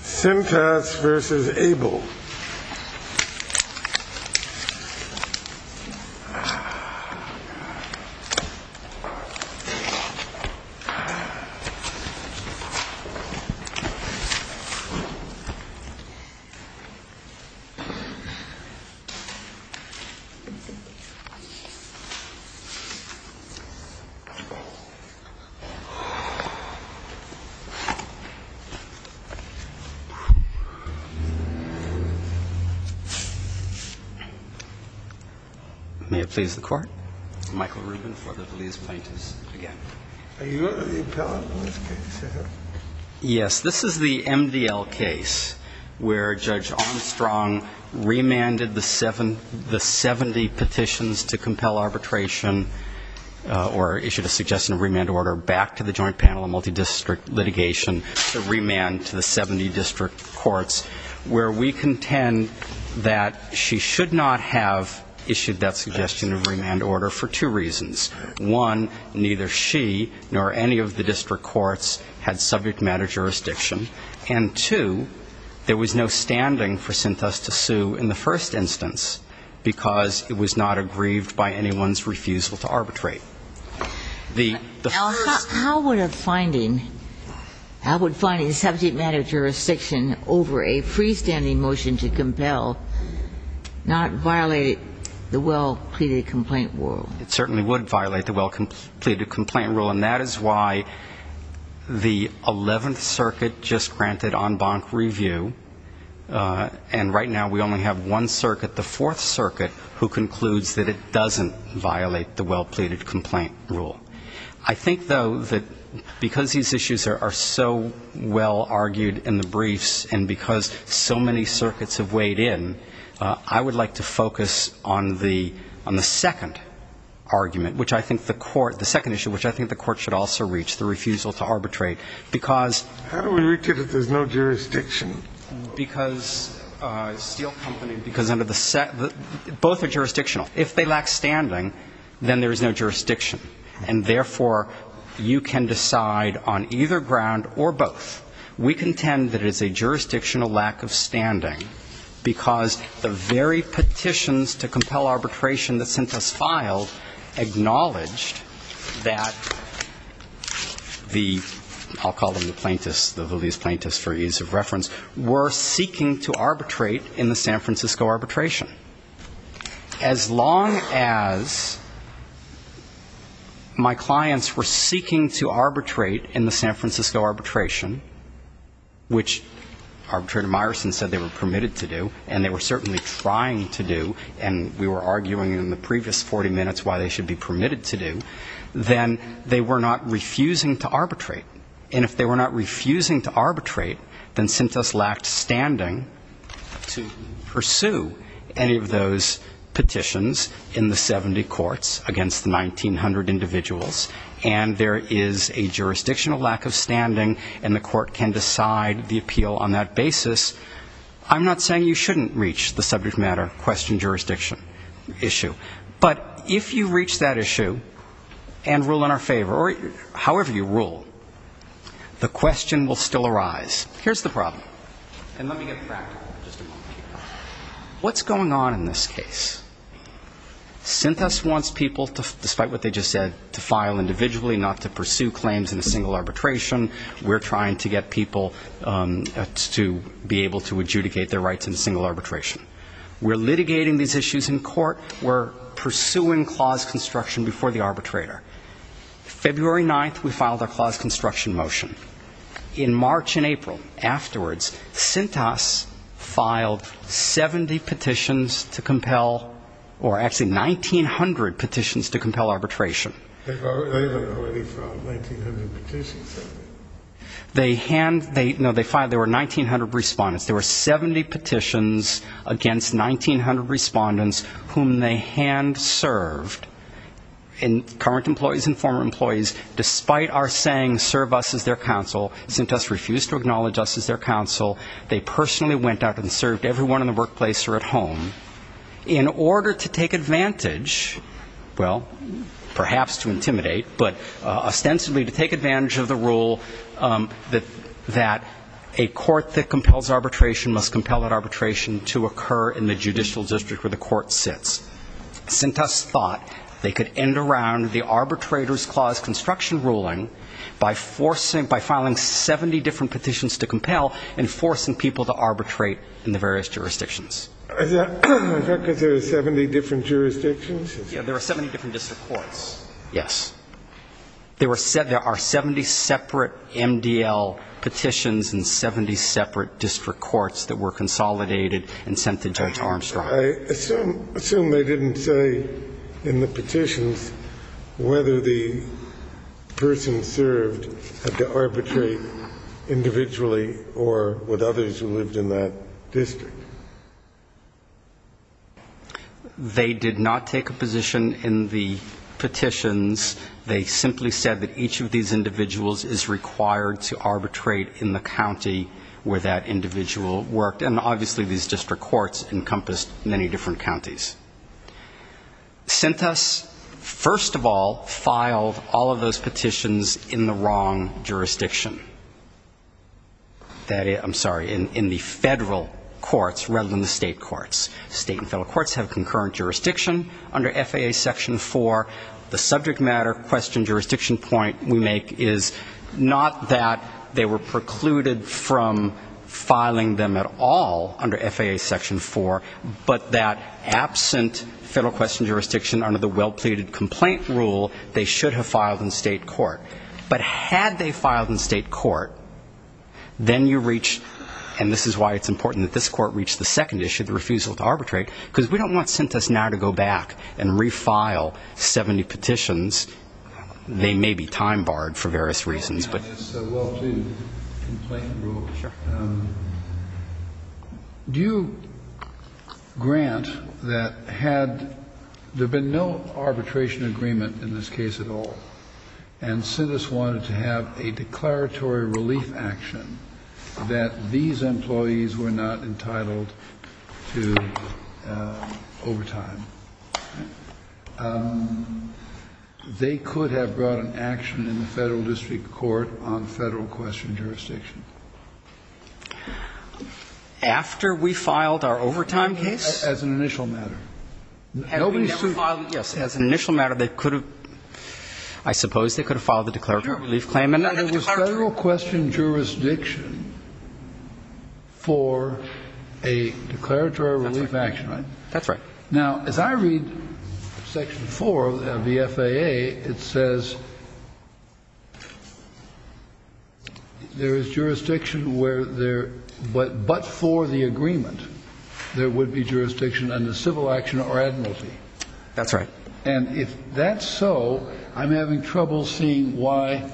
Cintas versus Abel May it please the Court, this is Michael Rubin for the Valise Plaintiffs, again. Are you the appellant in this case? Yes, this is the MDL case where Judge Armstrong remanded the 70 petitions to compel arbitration or issued a suggestion of remand order back to the joint panel of multidistrict litigation to remand to the 70 district courts, where we contend that she should not have issued that suggestion of remand order for two reasons. One, neither she nor any of the district courts had subject matter jurisdiction. And two, there was no standing for Cintas to sue in the first instance because it was not aggrieved by anyone's refusal to arbitrate. Now, how would a finding, how would finding subject matter jurisdiction over a freestanding motion to compel not violate the well-pleaded complaint rule? It certainly would violate the well-pleaded complaint rule, and that is why the 11th Circuit just granted en banc review, and right now we only have one circuit, the 4th I think, though, that because these issues are so well argued in the briefs and because so many circuits have weighed in, I would like to focus on the second argument, which I think the court, the second issue which I think the court should also reach, the refusal to arbitrate, because... How do we reach it if there's no jurisdiction? Because steel company, because under the, both are jurisdictional. If they lack standing, then there is no jurisdiction, and therefore, you can decide on either ground or both. We contend that it is a jurisdictional lack of standing because the very petitions to compel arbitration that Cintas filed acknowledged that the, I'll call them the plaintiffs, the Lillies plaintiffs for ease of reference, were seeking to arbitrate in the San Francisco arbitration. As long as my clients were seeking to arbitrate in the San Francisco arbitration, which Arbitrator Myerson said they were permitted to do, and they were certainly trying to do, and we were arguing in the previous 40 minutes why they should be permitted to do, then they were not refusing to arbitrate. And if they were not refusing to arbitrate, then Cintas lacked standing to pursue any of those petitions in the 70 courts against the 1,900 individuals, and there is a jurisdictional lack of standing, and the court can decide the appeal on that basis. I'm not saying you shouldn't reach the subject matter question jurisdiction issue. But if you reach that issue and rule in our favor, or however you rule, the question will still arise. Here's the problem. And let me get practical just a moment here. What's going on in this case? Cintas wants people, despite what they just said, to file individually, not to pursue claims in a single arbitration. We're trying to get people to be able to pursue claims in a single arbitration. We're pursuing clause construction before the arbitrator. February 9th, we filed a clause construction motion. In March and April afterwards, Cintas filed 70 petitions to compel, or actually 1,900 petitions to compel arbitration. They had already filed 1,900 petitions? No, there were 1,900 respondents. There were 70 petitions against 1,900 respondents, whom they handed and served, current employees and former employees, despite our saying serve us as their counsel. Cintas refused to acknowledge us as their counsel. They personally went out and served everyone in the workplace or at home, in order to take advantage, well, perhaps to intimidate, but ostensibly to take advantage of the rule that a court that compels arbitration must compel that arbitration to occur in the workplace. And Cintas thought they could end around the arbitrator's clause construction ruling by forcing, by filing 70 different petitions to compel and forcing people to arbitrate in the various jurisdictions. Is that because there are 70 different jurisdictions? Yes, there are 70 different district courts. Yes. There are 70 separate MDL petitions and 70 separate district courts that were consolidated and sent to Judge Armstrong. I assume they didn't say in the petitions whether the person served had to arbitrate individually or with others who lived in that district. They did not take a position in the petitions. They simply said that each of these individuals is required to arbitrate individually. Cintas, first of all, filed all of those petitions in the wrong jurisdiction. I'm sorry, in the federal courts rather than the state courts. State and federal courts have concurrent jurisdiction. Under FAA Section 4, the subject matter question jurisdiction point we make is not that they were precluded from filing those petitions by them at all under FAA Section 4, but that absent federal question jurisdiction under the well-pleaded complaint rule, they should have filed in state court. But had they filed in state court, then you reached, and this is why it's important that this court reached the second issue, the refusal to arbitrate, because we don't want Cintas now to go back and refile 70 petitions. They may be time-barred for various reasons. Do you grant that had there been no arbitration agreement in this case at all, and Cintas wanted to have a declaratory relief action that these employees were not entitled to overtime, they could have brought an action in the federal district court on federal question jurisdiction? After we filed our overtime case? As an initial matter. Yes, as an initial matter, they could have, I suppose they could have filed the declaratory relief claim. There was federal question jurisdiction for a declaratory relief action, right? That's right. Now, as I read Section 4 of the FAA, it says there is jurisdiction where there, but for the agreement, there would be jurisdiction under civil action or admiralty. That's right. And if that's so, I'm having trouble seeing why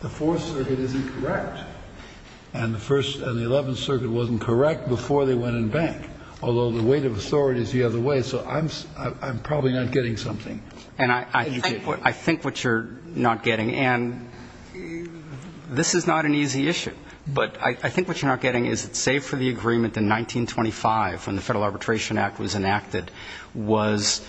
the Fourth Circuit isn't correct, and the First and the Eleventh Circuit, so I'm probably not getting something. I think what you're not getting, and this is not an easy issue, but I think what you're not getting is that, save for the agreement in 1925, when the Federal Arbitration Act was enacted, was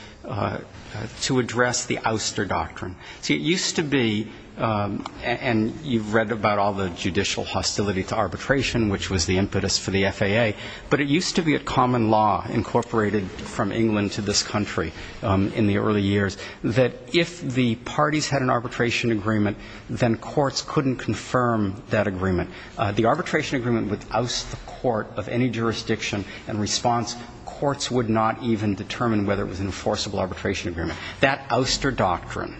to address the ouster doctrine. It used to be, and you've read about all the judicial hostility to arbitration, which was the impetus for the FAA, but it was also the impetus for the FAA to rule into this country in the early years, that if the parties had an arbitration agreement, then courts couldn't confirm that agreement. The arbitration agreement would oust the court of any jurisdiction, and in response, courts would not even determine whether it was an enforceable arbitration agreement. That ouster doctrine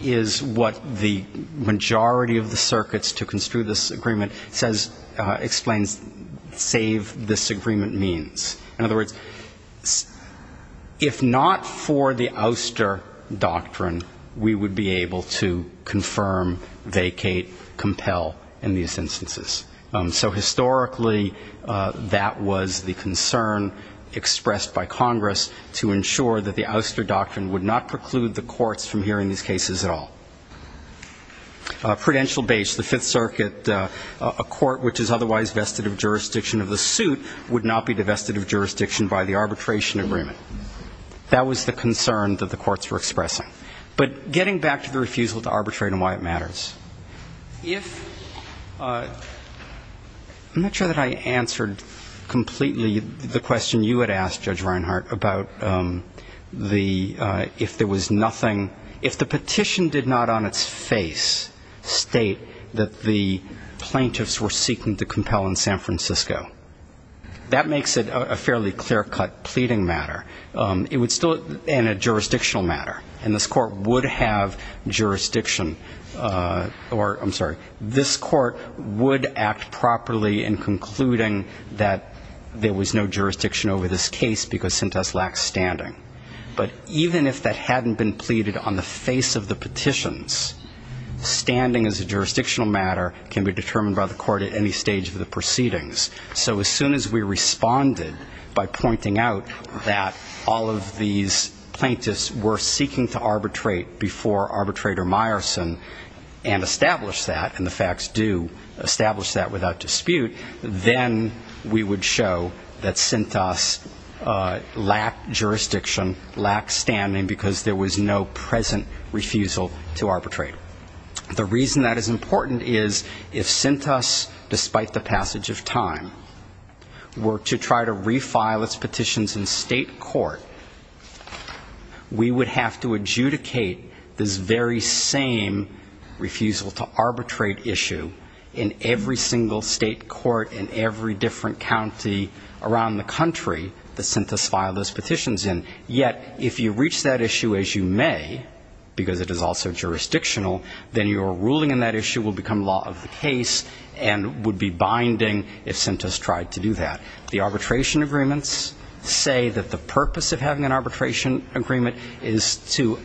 is what the majority of the circuits to construe this agreement says, explains, save this agreement means. If not for the ouster doctrine, we would be able to confirm, vacate, compel in these instances. So historically, that was the concern expressed by Congress to ensure that the ouster doctrine would not preclude the courts from hearing these cases at all. Prudential base, the Fifth Circuit, a court which is otherwise vested of jurisdiction of the suit would not be vested of jurisdiction of the case. That was the concern that the courts were expressing. But getting back to the refusal to arbitrate and why it matters. I'm not sure that I answered completely the question you had asked, Judge Reinhart, about if there was nothing, if the petition did not on its face state that the plaintiffs were seeking to compel in San Francisco. That makes it a fairly clear-cut pleading matter. And a jurisdictional matter, and this court would have jurisdiction, or I'm sorry, this court would act properly in concluding that there was no jurisdiction over this case because Sintas lacked standing. But even if that hadn't been pleaded on the face of the petitions, standing as a jurisdictional matter can be determined by the court at any stage of the proceedings. So as soon as we responded by pointing out that all of these plaintiffs were seeking to arbitrate before arbitrator Meyerson and established that, and the facts do establish that without dispute, then we would show that Sintas lacked jurisdiction, lacked standing because there was no present refusal to arbitrate. The reason that is important is if Sintas, despite the passage of time, were to try to refile its petitions in state court, we would have to adjudicate this very same refusal to arbitrate issue in every single state court in every different county around the country that Sintas filed those petitions in. If Sintas tried to do that, the arbitration agreements say that the purpose of having an arbitration agreement is to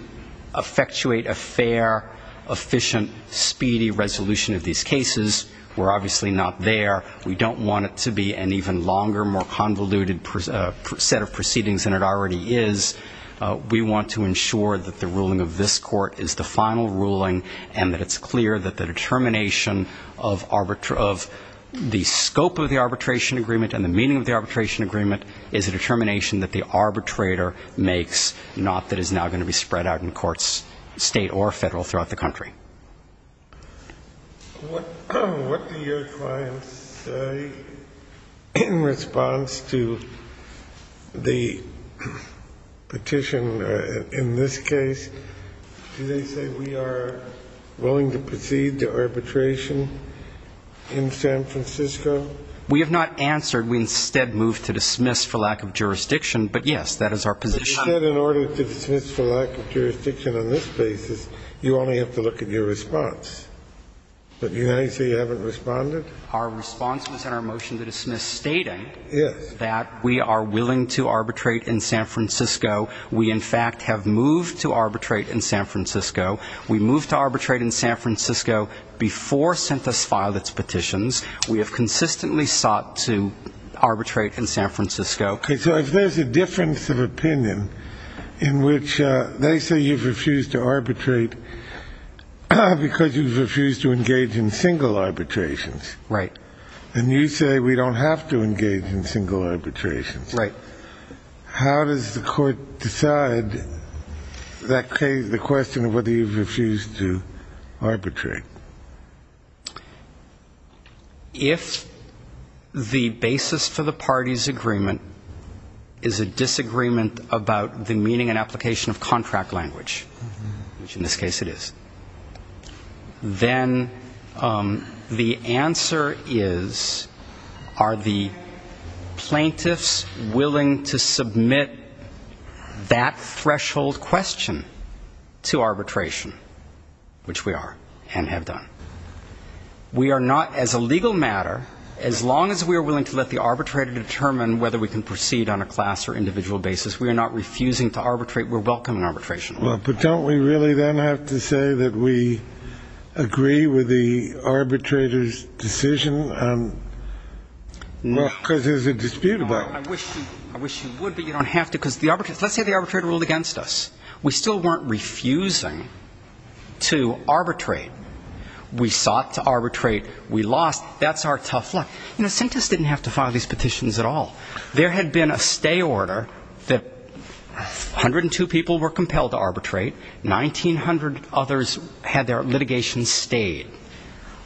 effectuate a fair, efficient, speedy resolution of these cases. We're obviously not there. We don't want it to be an even longer, more convoluted set of proceedings than it already is. And that it's clear that the determination of the scope of the arbitration agreement and the meaning of the arbitration agreement is a determination that the arbitrator makes, not that is now going to be spread out in courts, state or federal, throughout the country. What do your clients say in response to the petition in this case? Do they say we are willing to proceed to arbitration in San Francisco? We have not answered. We instead moved to dismiss for lack of jurisdiction. But, yes, that is our position. But you said in order to dismiss for lack of jurisdiction on this basis, you only have to look at your response. But you say you haven't responded? Our response was in our motion to dismiss stating that we are willing to arbitrate in San Francisco. We, in fact, have moved to arbitrate in San Francisco. We moved to arbitrate in San Francisco before CENTUS filed its petitions. We have consistently sought to arbitrate in San Francisco. So if there's a difference of opinion in which they say you've refused to arbitrate because you've refused to engage in single arbitrations. Right. And you say we don't have to engage in single arbitrations. How does the court decide the question of whether you've refused to arbitrate? If the basis for the party's agreement is a disagreement about the meaning and application of contract language, which in this case it is, then the answer is, are the plaintiffs willing to submit that threshold question to arbitration, which we are and have done? We are not, as a legal matter, as long as we are willing to let the arbitrator determine whether we can proceed on a class or individual basis, we are not refusing to arbitrate. We're welcome in arbitration. Well, but don't we really then have to say that we agree with the arbitrator's decision? Because there's a dispute about it. I wish you would, but you don't have to, because let's say the arbitrator ruled against us. We still weren't refusing to arbitrate. We sought to arbitrate, we lost, that's our tough luck. You know, Sintas didn't have to file these petitions at all. There had been a stay order that 102 people were compelled to arbitrate, 1,900 others had their litigation stayed.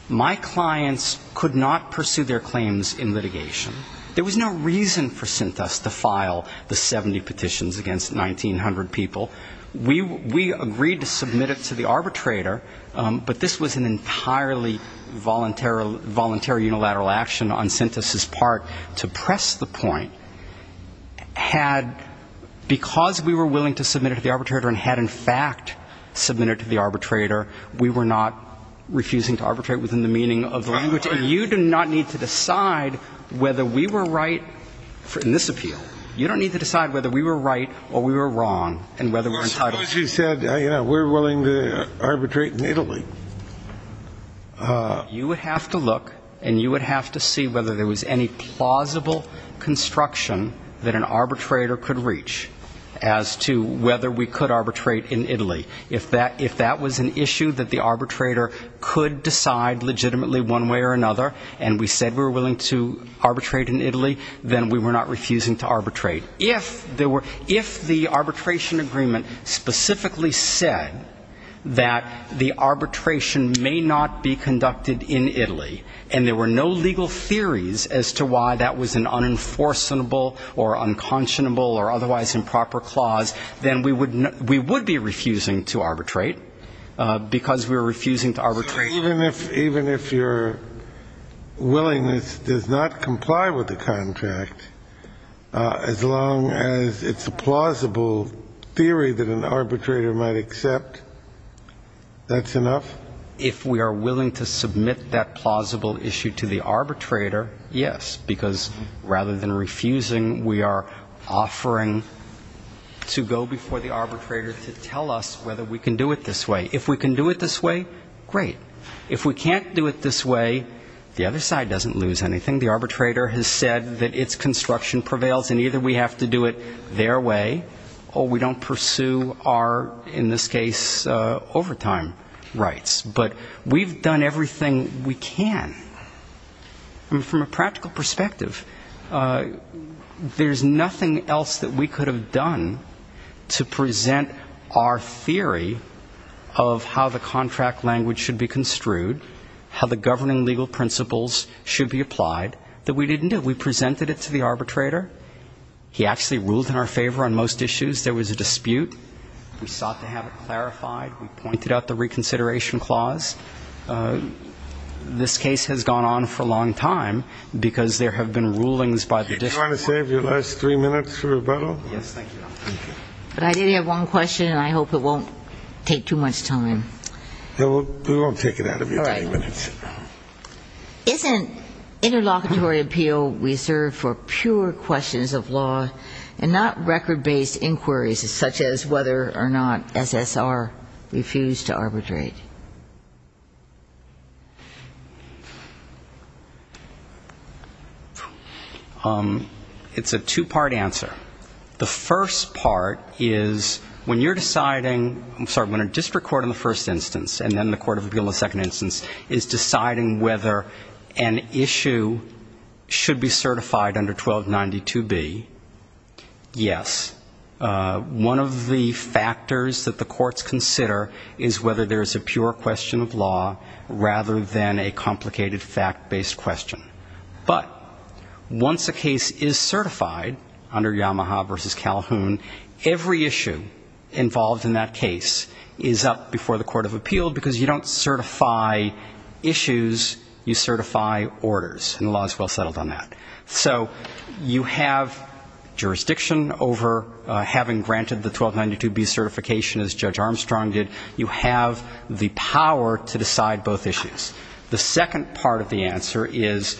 My clients could not pursue their claims in litigation. There was no reason for Sintas to file the 70 petitions against 1,900 people. We agreed to submit it to the arbitrator, but this was an entirely voluntary unilateral action on Sintas' part to press the point. Because we were willing to submit it to the arbitrator and had in fact submitted it to the arbitrator, we were not refusing to arbitrate within the meaning of the language. And you do not need to decide whether we were right in this appeal. You don't need to decide whether we were right or we were wrong. Suppose you said, you know, we're willing to arbitrate in Italy. You would have to look and you would have to see whether there was any plausible construction that an arbitrator could reach as to whether we could arbitrate in Italy. If that was an issue that the arbitrator could decide legitimately one way or another and we said we were willing to arbitrate in Italy, then we were not refusing to arbitrate in Italy. If the arbitration agreement specifically said that the arbitration may not be conducted in Italy and there were no legal theories as to why that was an unenforceable or unconscionable or otherwise improper clause, then we would be refusing to arbitrate, because we were refusing to arbitrate. Even if your willingness does not comply with the contract, it's not going to be an arbitration. As long as it's a plausible theory that an arbitrator might accept, that's enough? If we are willing to submit that plausible issue to the arbitrator, yes, because rather than refusing, we are offering to go before the arbitrator to tell us whether we can do it this way. If we can do it this way, great. If we can't do it this way, the other side doesn't lose anything. The arbitrator has said that its construction prevails and either we have to do it their way or we don't pursue our, in this case, overtime rights. But we've done everything we can. And from a practical perspective, there's nothing else that we could have done to present our theory of how the contract language should be constructed. How the governing legal principles should be applied that we didn't do. We presented it to the arbitrator. He actually ruled in our favor on most issues. There was a dispute. We sought to have it clarified. We pointed out the reconsideration clause. This case has gone on for a long time because there have been rulings by the district court. Do you want to save your last three minutes for rebuttal? Yes, thank you. But I did have one question and I hope it won't take too much time. We won't take it out of your three minutes. Isn't interlocutory appeal reserved for pure questions of law and not record-based inquiries such as whether or not SSR refused to arbitrate? It's a two-part answer. The first part is when you're deciding, I'm sorry, when a district court in the first instance and then the court of appeal in the second instance is deciding whether an issue should be certified under 1292B, yes. One of the factors that the courts consider is whether there's a pure question of law rather than a complicated fact-based question. But once a case is certified under Yamaha v. Calhoun, every issue involved in that case is up before the court of appeal because you don't certify issues, you certify orders, and the law is well settled on that. So you have jurisdiction over having granted the 1292B certification as Judge Armstrong did. You have the power to decide both issues. The second part of the answer is,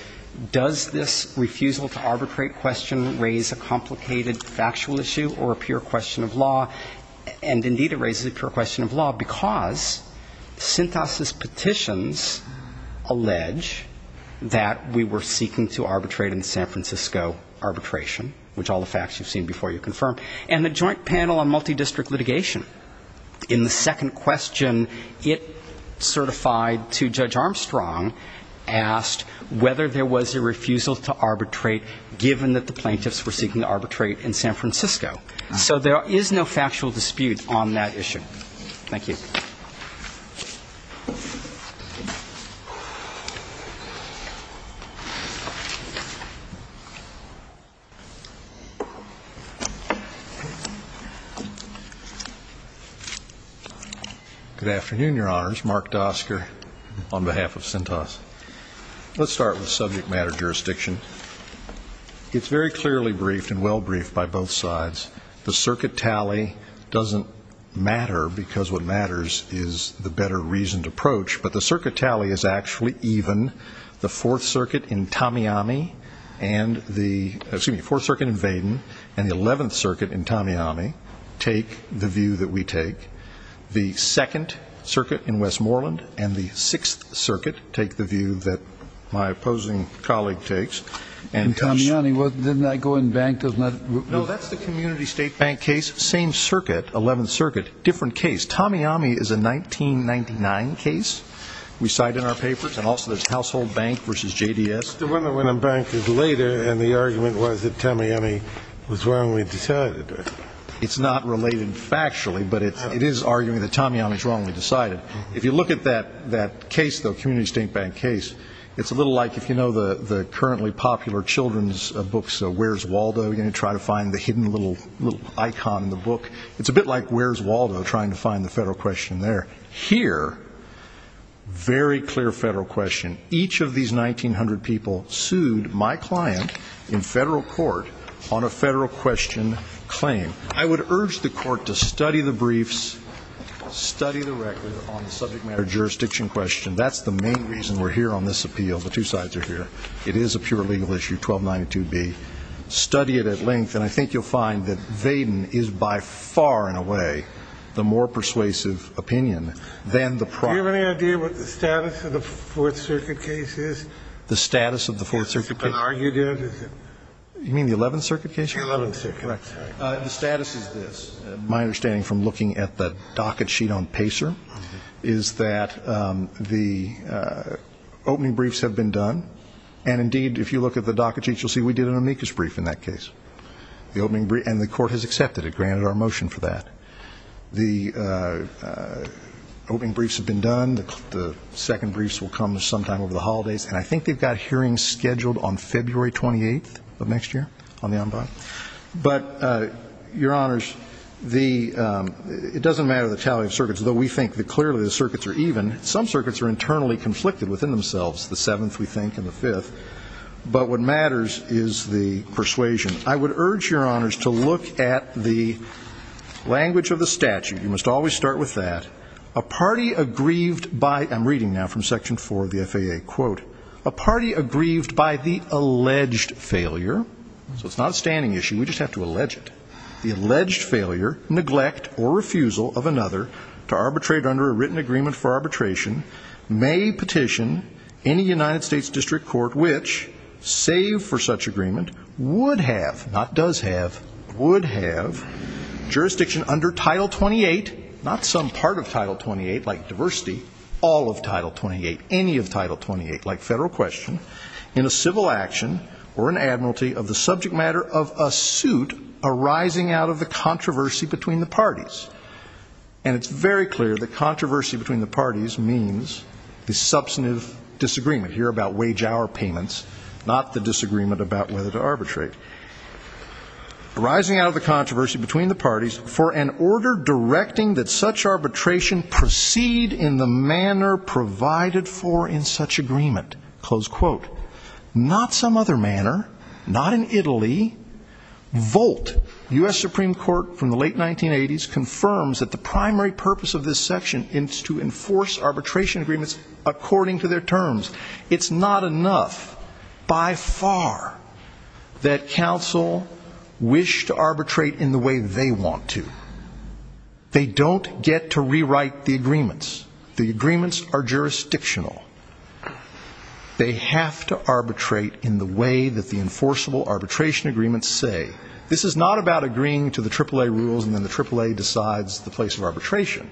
does this refusal to arbitrate question raise a complicated factual issue or a pure question of law? And, indeed, it raises a pure question of law because Sintas's petitions allege that we were seeking to arbitrate in the San Francisco arbitration, which all the facts you've seen before you confirm, and the joint panel on multidistrict litigation. In the second question, it certified to Judge Armstrong asked whether there was a refusal to arbitrate given that the plaintiffs were seeking to arbitrate in San Francisco. So there is no factual dispute on that issue. Thank you. Good afternoon, Your Honors. Mark Dosker on behalf of Sintas. Let's start with subject matter jurisdiction. It's very clearly briefed and well briefed by both sides. The circuit tally doesn't matter because what matters is the better reasoned approach. But the circuit tally is actually even. The Fourth Circuit in Vaden and the Eleventh Circuit in Tamiyami take the view that we take. The Second Circuit in Westmoreland and the Sixth Circuit take the view that my opposing colleague takes. And Tamiyami, didn't that go in bank? No, that's the community state bank case. Same circuit, Eleventh Circuit, different case. Tamiyami is a 1999 case we cite in our papers. And also there's Household Bank versus JDS. But the one that went in bank is later, and the argument was that Tamiyami was wrongly decided. It's not related factually, but it is arguing that Tamiyami is wrongly decided. If you look at that case, though, community state bank case, it's a little like if you know the currently popular children's books, Where's Waldo? You're going to try to find the hidden little icon in the book. It's a bit like Where's Waldo, trying to find the federal question there. Here, very clear federal question. Each of these 1900 people sued my client in federal court on a federal question claim. I would urge the court to study the briefs, study the record on the subject matter jurisdiction question. That's the main reason we're here on this appeal. The two sides are here. It is a pure legal issue, 1292B. Study it at length, and I think you'll find that Vaden is by far, in a way, the more persuasive opinion than the proxy. Do you have any idea what the status of the Fourth Circuit case is? You mean the Eleventh Circuit case? The status is this. My understanding from looking at the docket sheet on Pacer is that the opening briefs have been done. And indeed, if you look at the docket sheet, you'll see we did an amicus brief in that case. And the court has accepted it, granted our motion for that. The opening briefs have been done. The second briefs will come sometime over the holidays. And I think they've got hearings scheduled on February 28th of next year on the en banc. But, Your Honors, it doesn't matter the tally of circuits, though we think that clearly the circuits are even. Some circuits are internally conflicted within themselves, the Seventh, we think, and the Fifth. But what matters is the persuasion. I would urge Your Honors to look at the language of the statute. You must always start with that. A party aggrieved by, I'm reading now from Section 4 of the FAA, quote, a party aggrieved by the alleged failure, so it's not a standing issue, we just have to allege it, the alleged failure, neglect, or refusal of another to arbitrate under a written agreement for arbitration may petition any United States district court which, save for such agreement, would have, not does have, would have jurisdiction under Title 28, not some part of Title 28, like diversity, all of Title 28, any of Title 28, like federal question, in a civil action or an admiralty of the subject matter of a suit arising out of the controversy between the parties. And it's very clear that controversy between the parties means the substantive disagreement here about wage-hour payments, not the disagreement about whether to arbitrate. Arising out of the controversy between the parties for an order directing that such arbitration proceed in the manner provided for in such agreement, close quote, not some other manner, not in Italy, Volt, U.S. Supreme Court from the late 1980s, confirms that the primary purpose of this section is to enforce arbitration agreements according to their terms. It's not enough by far that counsel wish to arbitrate in the way they want to. They don't get to rewrite the agreements. The agreements are jurisdictional. They have to arbitrate in the way that the enforceable arbitration agreements say. This is not about agreeing to the AAA rules and then the AAA decides the place of arbitration.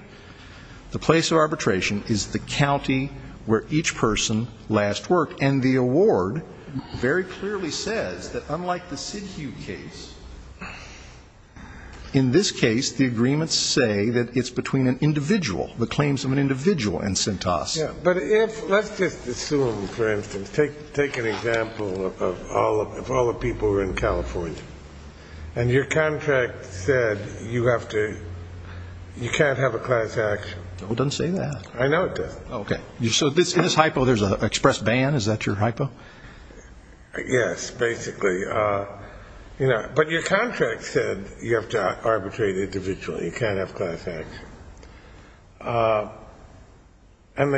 The place of arbitration is the county where each person last worked. And the award very clearly says that unlike the Sidhu case, in this case, the agreements say that it's between an individual, the claims of an individual and Cintas. But let's just assume, for instance, take an example of all the people who are in California. And your contract said you have to, you can't have a class action. It doesn't say that. I know it doesn't. Okay. So in this hypo, there's an express ban. Is that your hypo? Yes, basically. But your contract said you have to arbitrate individually. You can't have class action. And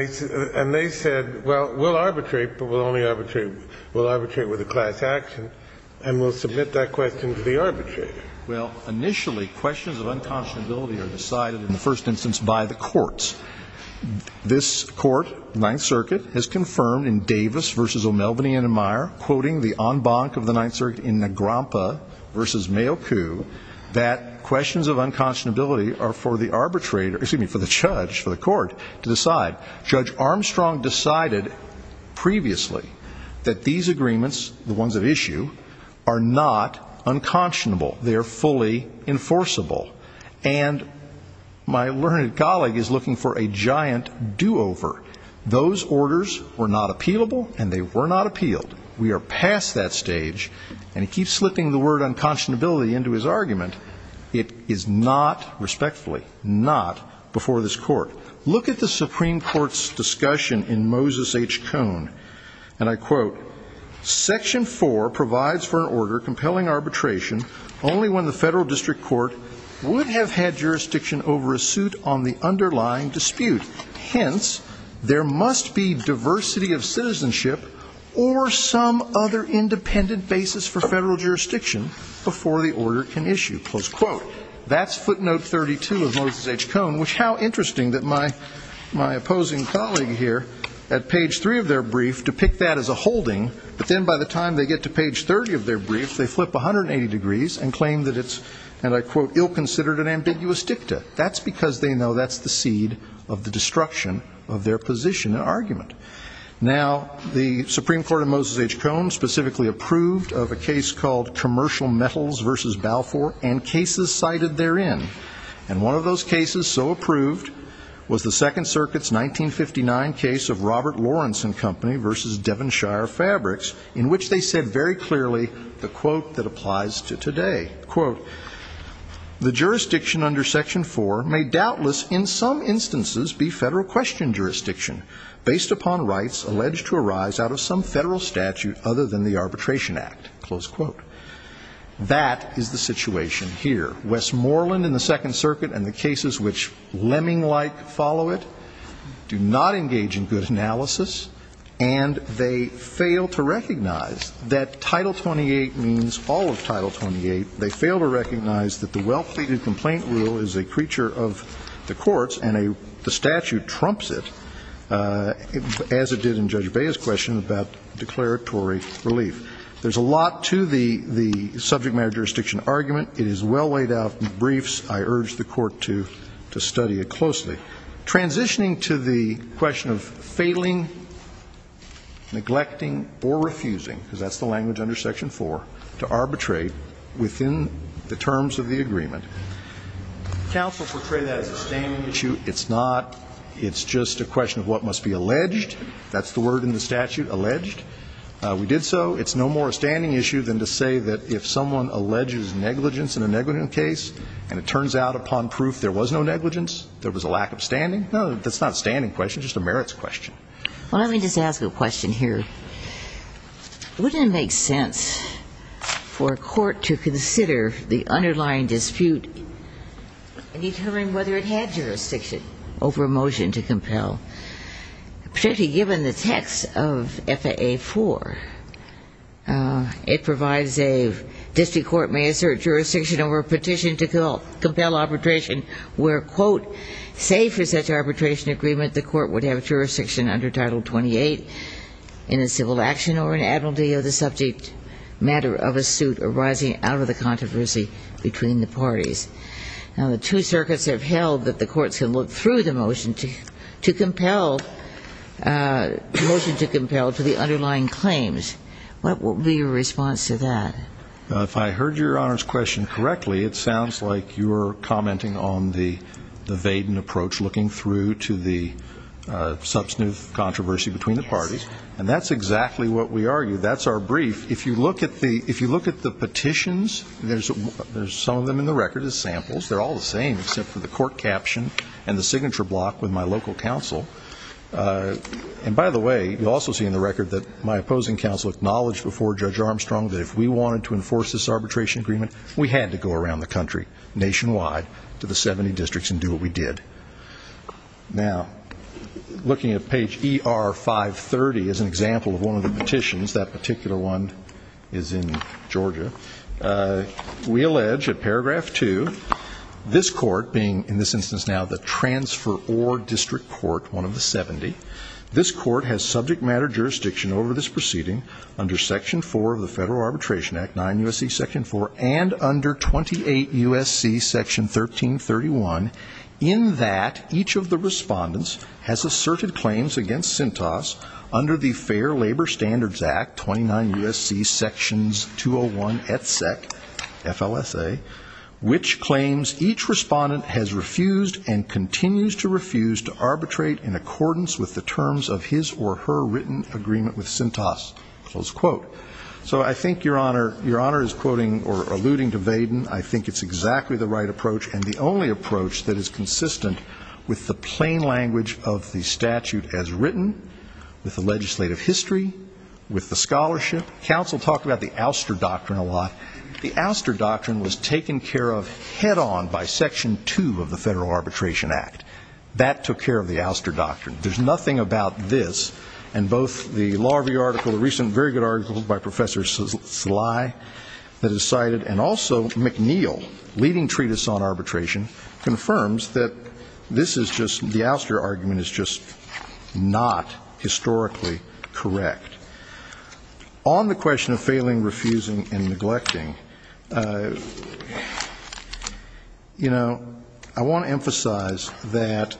they said, well, we'll arbitrate, but we'll only arbitrate, we'll arbitrate with a class action, and we'll submit that question to the arbitrator. Well, initially, questions of unconscionability are decided in the first instance by the courts. This court, Ninth Circuit, has confirmed in Davis v. O'Melveny and Amire, quoting the en banc of the Ninth Circuit in Nagrampa v. Mayoku, that questions of unconscionability are for the arbitrator, excuse me, for the judge, for the court, to decide. Judge Armstrong decided previously that these agreements, the ones at issue, are not unconscionable. They are fully enforceable. And my learned colleague is looking for a giant do-over. Those orders were not appealable, and they were not appealed. We are past that stage, and he keeps slipping the word unconscionability into his argument. It is not, respectfully, not before this court. Look at the Supreme Court's discussion in Moses H. Cohn, and I quote, Section 4 provides for an order compelling arbitration only when the federal district court would have had jurisdiction over a suit on the underlying dispute. Hence, there must be diversity of citizenship or some other independent basis for federal jurisdiction before the order can issue. That's footnote 32 of Moses H. Cohn, which, how interesting that my opposing colleague here, at page 3 of their brief, depict that as a holding, but then by the time they get to page 30 of their brief, they flip 180 degrees and claim that it's, and I quote, ill-considered and ambiguous dicta. That's because they know that's the seed of the destruction of their position and argument. Now, the Supreme Court in Moses H. Cohn specifically approved of a case called Commercial Metals v. Balfour, and cases cited therein, and one of those cases so approved was the Second Circuit's 1959 case of Robert Lawrenson Company v. Devonshire Fabrics, in which they said very clearly the quote that applies to today. Quote, the jurisdiction under Section 4 may doubtless in some instances be federal question jurisdiction, based upon rights alleged to arise out of some federal statute other than the Arbitration Act. Close quote. That is the situation here. Westmoreland in the Second Circuit and the cases which lemming-like follow it do not engage in good analysis, and they fail to recognize that Title 28 means all of Title 28. They fail to recognize that the well-pleaded complaint rule is a creature of the courts, and the statute trumps it, as it did in Judge Bea's question about declaratory relief. Now, to the subject matter jurisdiction argument, it is well laid out in the briefs. I urge the Court to study it closely. Transitioning to the question of failing, neglecting, or refusing, because that's the language under Section 4, to arbitrate within the terms of the agreement. Counsel portrayed that as a standing issue. It's not. It's just a question of what must be alleged. That's the word in the statute, alleged. We did so. It's no more a standing issue than to say that if someone alleges negligence in a negligent case, and it turns out upon proof there was no negligence, there was a lack of standing. No, that's not a standing question. It's just a merits question. Well, let me just ask a question here. Wouldn't it make sense for a court to consider the underlying dispute and determine whether it had jurisdiction over a motion to compel? Particularly given the text of FAA 4, it provides a district court may assert jurisdiction over a petition to compel arbitration where, quote, say for such arbitration agreement the court would have jurisdiction under Title 28 in a civil action or an admittal of the subject matter of a suit arising out of the controversy between the parties. Now, the two circuits have held that the courts can look through the motion to compel, motion to compel to the underlying claims. What would be your response to that? If I heard Your Honor's question correctly, it sounds like you're commenting on the Vaden approach, looking through to the substantive controversy between the parties. That's our brief. If you look at the petitions, there's some of them in the record as samples. They're all the same except for the court caption and the signature block with my local counsel. And by the way, you'll also see in the record that my opposing counsel acknowledged before Judge Armstrong that if we wanted to enforce this arbitration agreement, we had to go around the country, nationwide, to the 70 districts and do what we did. Now, looking at page ER530 is an example of one of the petitions. That particular one is in Georgia. We allege at paragraph 2, this court, being in this instance now the transfer or district court, one of the 70, this court has subject matter jurisdiction over this proceeding under Section 4 of the Federal Arbitration Act, 9 U.S.C. Section 4, and under 28 U.S.C. Section 1331. In that, each of the respondents has asserted claims against Cintas under the Fair Labor Standards Act, 29 U.S.C. Sections 201 et sec, FLSA, which claims each respondent has refused and continues to refuse to arbitrate in accordance with the terms of his or her written agreement with Cintas. So I think Your Honor is quoting or alluding to Vaden. I think it's exactly the right approach and the only approach that is consistent with the plain language of the statute as written, with the legislative history, with the scholarship. Counsel talked about the ouster doctrine a lot. The ouster doctrine was taken care of head on by Section 2 of the Federal Arbitration Act. That took care of the ouster doctrine. There's nothing about this, and both the Law Review article, the recent very good article by Professor Sly that is cited, and also McNeil, leading treatise on arbitration, confirms that this is just, the ouster argument is just not historically correct. On the question of failing, refusing, and neglecting, you know, I want to emphasize that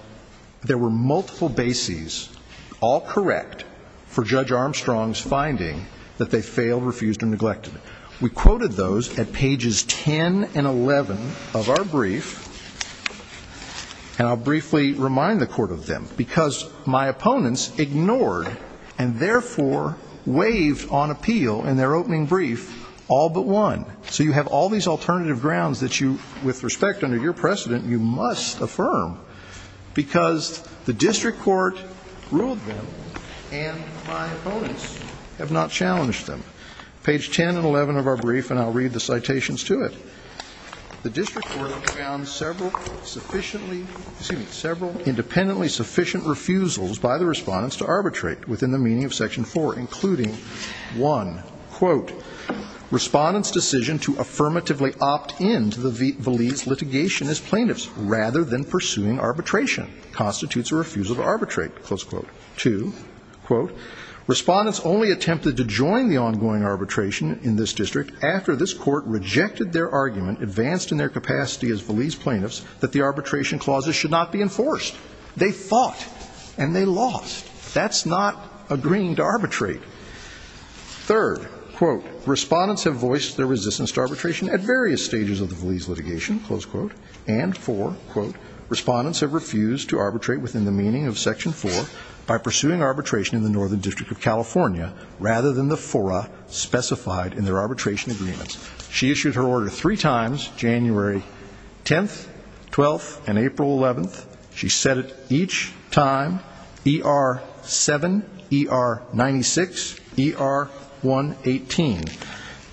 there were multiple bases for arbitration. All correct for Judge Armstrong's finding that they failed, refused, and neglected. We quoted those at pages 10 and 11 of our brief, and I'll briefly remind the Court of them. Because my opponents ignored and therefore waived on appeal in their opening brief all but one. So you have all these alternative grounds that you, with respect under your precedent, you must affirm. Because the district court ruled them, and my opponents have not challenged them. Page 10 and 11 of our brief, and I'll read the citations to it. The district court found several sufficiently, excuse me, several independently sufficient refusals by the respondents to arbitrate, within the meaning of Section 4, including one. Quote, respondents' decision to affirmatively opt in to the Valise litigation as plaintiffs, rather than pursuing arbitration. Constitutes a refusal to arbitrate, close quote. Two, quote, respondents only attempted to join the ongoing arbitration in this district after this court rejected their argument, advanced in their capacity as Valise plaintiffs, that the arbitration clauses should not be enforced. They fought, and they lost. That's not agreeing to arbitrate. Third, quote, respondents have voiced their resistance to arbitration at various stages of the Valise litigation, close quote. And four, quote, respondents have refused to arbitrate within the meaning of Section 4 by pursuing arbitration in the Northern District of California, rather than the fora specified in their arbitration agreements. She issued her order three times, January 10th, 12th, and April 11th. She said it each time, ER-7, ER-96, ER-118.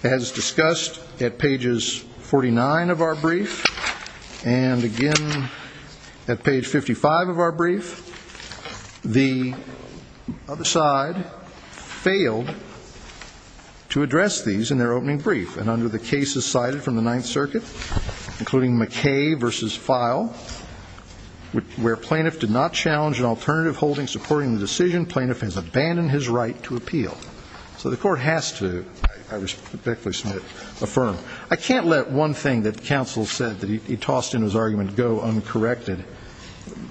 As discussed at pages 49 of our brief, and again at page 55 of our brief, the other side failed to address these in their opening brief. And under the cases cited from the Ninth Circuit, including McKay versus Feil, the other side failed to address these in their opening brief. Where plaintiff did not challenge an alternative holding supporting the decision, plaintiff has abandoned his right to appeal. So the court has to, I respectfully submit, affirm. I can't let one thing that counsel said that he tossed in his argument go uncorrected,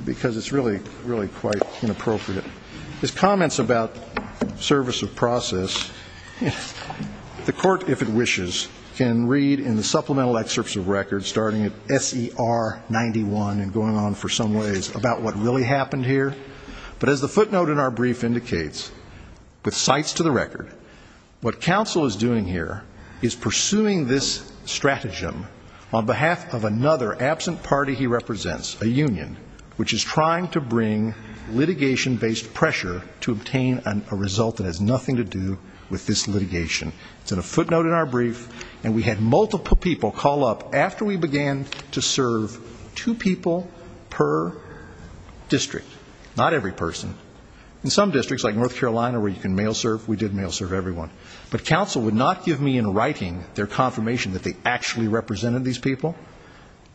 because it's really, really quite inappropriate. His comments about service of process, the court, if it wishes, can read in the supplemental excerpts of records starting at SER-91 and going on for some length of time. I'm not going to go into details about what really happened here, but as the footnote in our brief indicates, with cites to the record, what counsel is doing here is pursuing this stratagem on behalf of another absent party he represents, a union, which is trying to bring litigation-based pressure to obtain a result that has nothing to do with this litigation. It's in a footnote in our brief.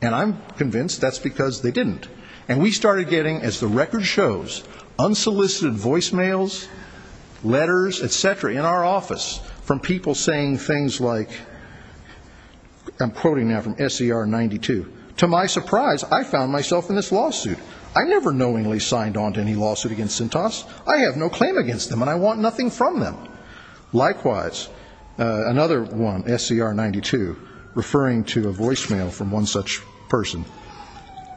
And I'm convinced that's because they didn't. And we started getting, as the record shows, unsolicited voicemails, letters, et cetera, in our office from people saying things like, I'm quoting now from SER-92, to my surprise, I found myself in this lawsuit. I never knowingly signed on to any lawsuit against Sintas. I have no claim against them, and I want nothing from them. Likewise, another one, SER-92, referring to a voicemail from one such person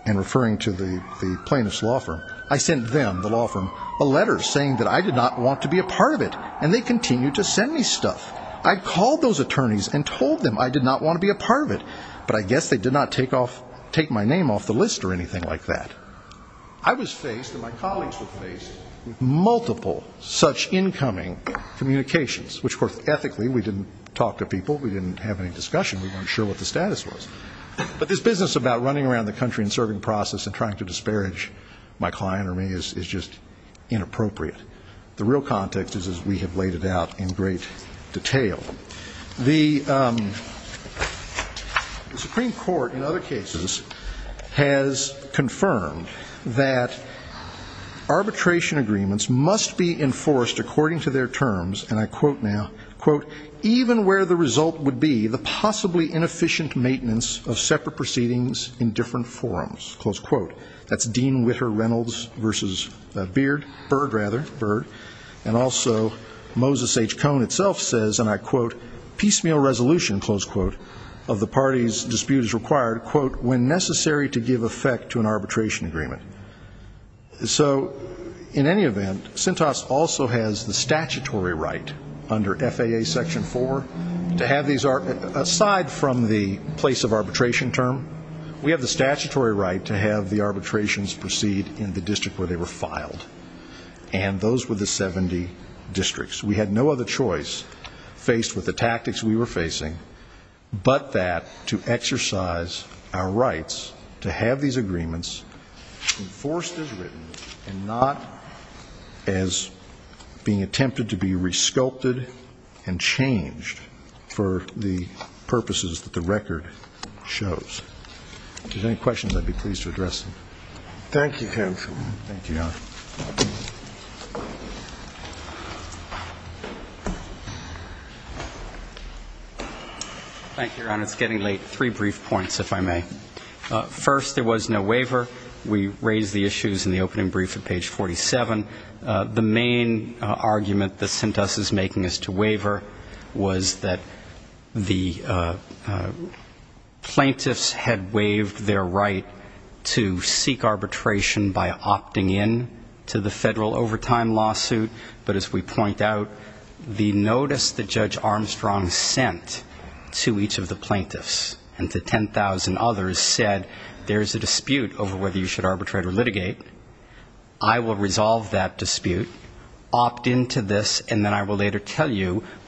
and referring to the plaintiff's law firm, I sent them, the law firm, a letter saying that I did not want to be a part of it, and they continued to send me stuff. I called those attorneys and told them I did not want to be a part of it, but I guess they did not take my name off the list or anything like that. I was faced, and my colleagues were faced, with multiple such incoming communications, which, of course, ethically, we didn't talk to people, we didn't have any discussion, we weren't sure what the status was. But this business about running around the country and serving process and trying to disparage my client or me is just inappropriate. The real context is as we have laid it out in great detail. The Supreme Court, in other cases, has confirmed that arbitration agreements must be enforced according to their terms, and I quote now, quote, even where the result would be the possibly inefficient maintenance of separate proceedings in different forums. Close quote. That's Dean Witter Reynolds versus Beard, Bird rather, Bird, and also Moses H. Cone itself says, and I quote, piecemeal resolution, close quote, of the party's disputes required, quote, when necessary to give effect to an arbitration agreement. So, in any event, CENTAS also has the statutory right under FAA Section 4 to have these, aside from the place of arbitration term, we have the statutory right to have the arbitrations proceed in the district where they were filed. And those were the 70 districts. We had no other choice faced with the tactics we were facing but that to exercise our rights to have these agreements enforced as written and not as being attempted to be resculpted and changed for the purposes that the record shows. If there's any questions, I'd be pleased to address them. Thank you, counsel. Thank you, Your Honor. It's getting late. Three brief points, if I may. First, there was no waiver. We raised the issues in the opening brief at page 47. The main argument that CENTAS is making as to waiver was that the plaintiffs had waived their right to seek arbitration by opting in to the federal overtime lawsuit, but as we point out, the notice that Judge Armstrong sent to each of the plaintiffs and to 10,000 others was not a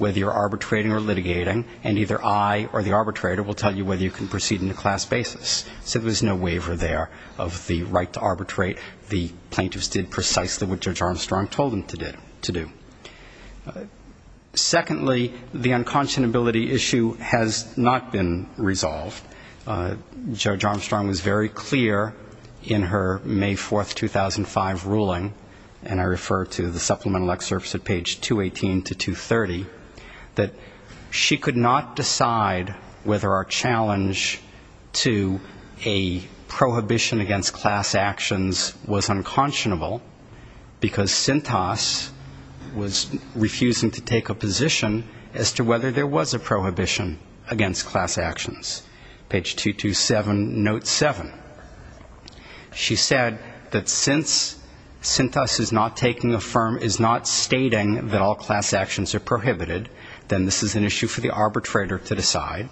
waiver. The plaintiffs did precisely what Judge Armstrong told them to do. Secondly, the unconscionability issue has not been resolved. Judge Armstrong was very clear in her May 4, 2005, ruling, and I refer to the supplemental excerpts at page 218 to 230, that she could not decide whether our challenge to a prohibition against class actions was unconscionable, because CENTAS was refusing to take a position as to whether there was a prohibition against class actions. Page 227, note 7. She said that since CENTAS is not stating that all class actions are prohibited, then this is an issue for the arbitrator to decide,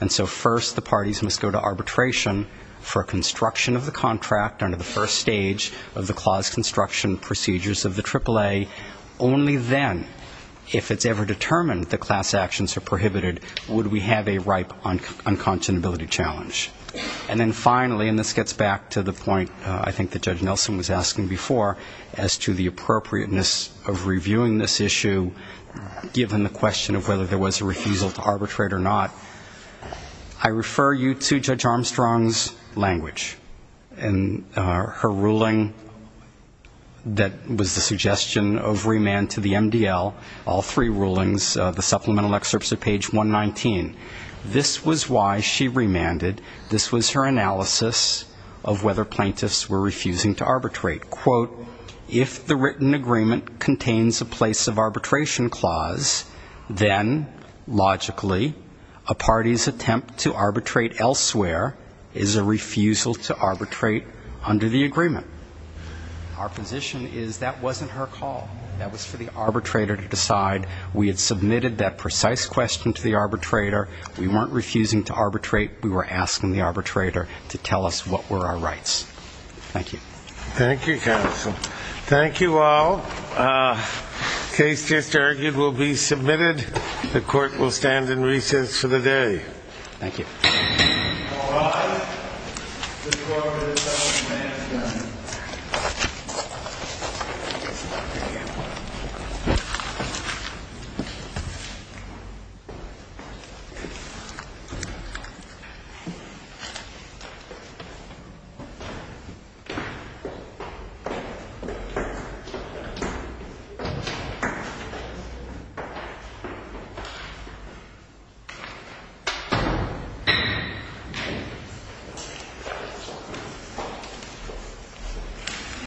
and so first the parties must go to arbitration for construction of the contract under the first stage of the clause construction procedures of the AAA. Only then, if it's ever determined that class actions are prohibited, would we have a ripe unconscionability challenge. And then finally, and this gets back to the point I think that Judge Nelson was asking before, as to the appropriateness of reviewing this issue, given the question of whether there was a refusal to arbitrate or not, I refer you to Judge Armstrong's language. And her ruling that was the suggestion of remand to the MDL, all three rulings, the supplemental excerpts at page 119. This was why she remanded, this was her analysis of whether plaintiffs were refusing to arbitrate. Quote, if the written agreement contains a place of arbitration clause, then logically a party's attempt to arbitrate elsewhere is a refusal to arbitrate. Under the agreement, our position is that wasn't her call. That was for the arbitrator to decide. We had submitted that precise question to the arbitrator. We weren't refusing to arbitrate. We were asking the arbitrator to tell us what were our rights. Thank you. Thank you, counsel. Thank you all. Case just argued will be submitted. The court will stand in recess for the day. Thank you.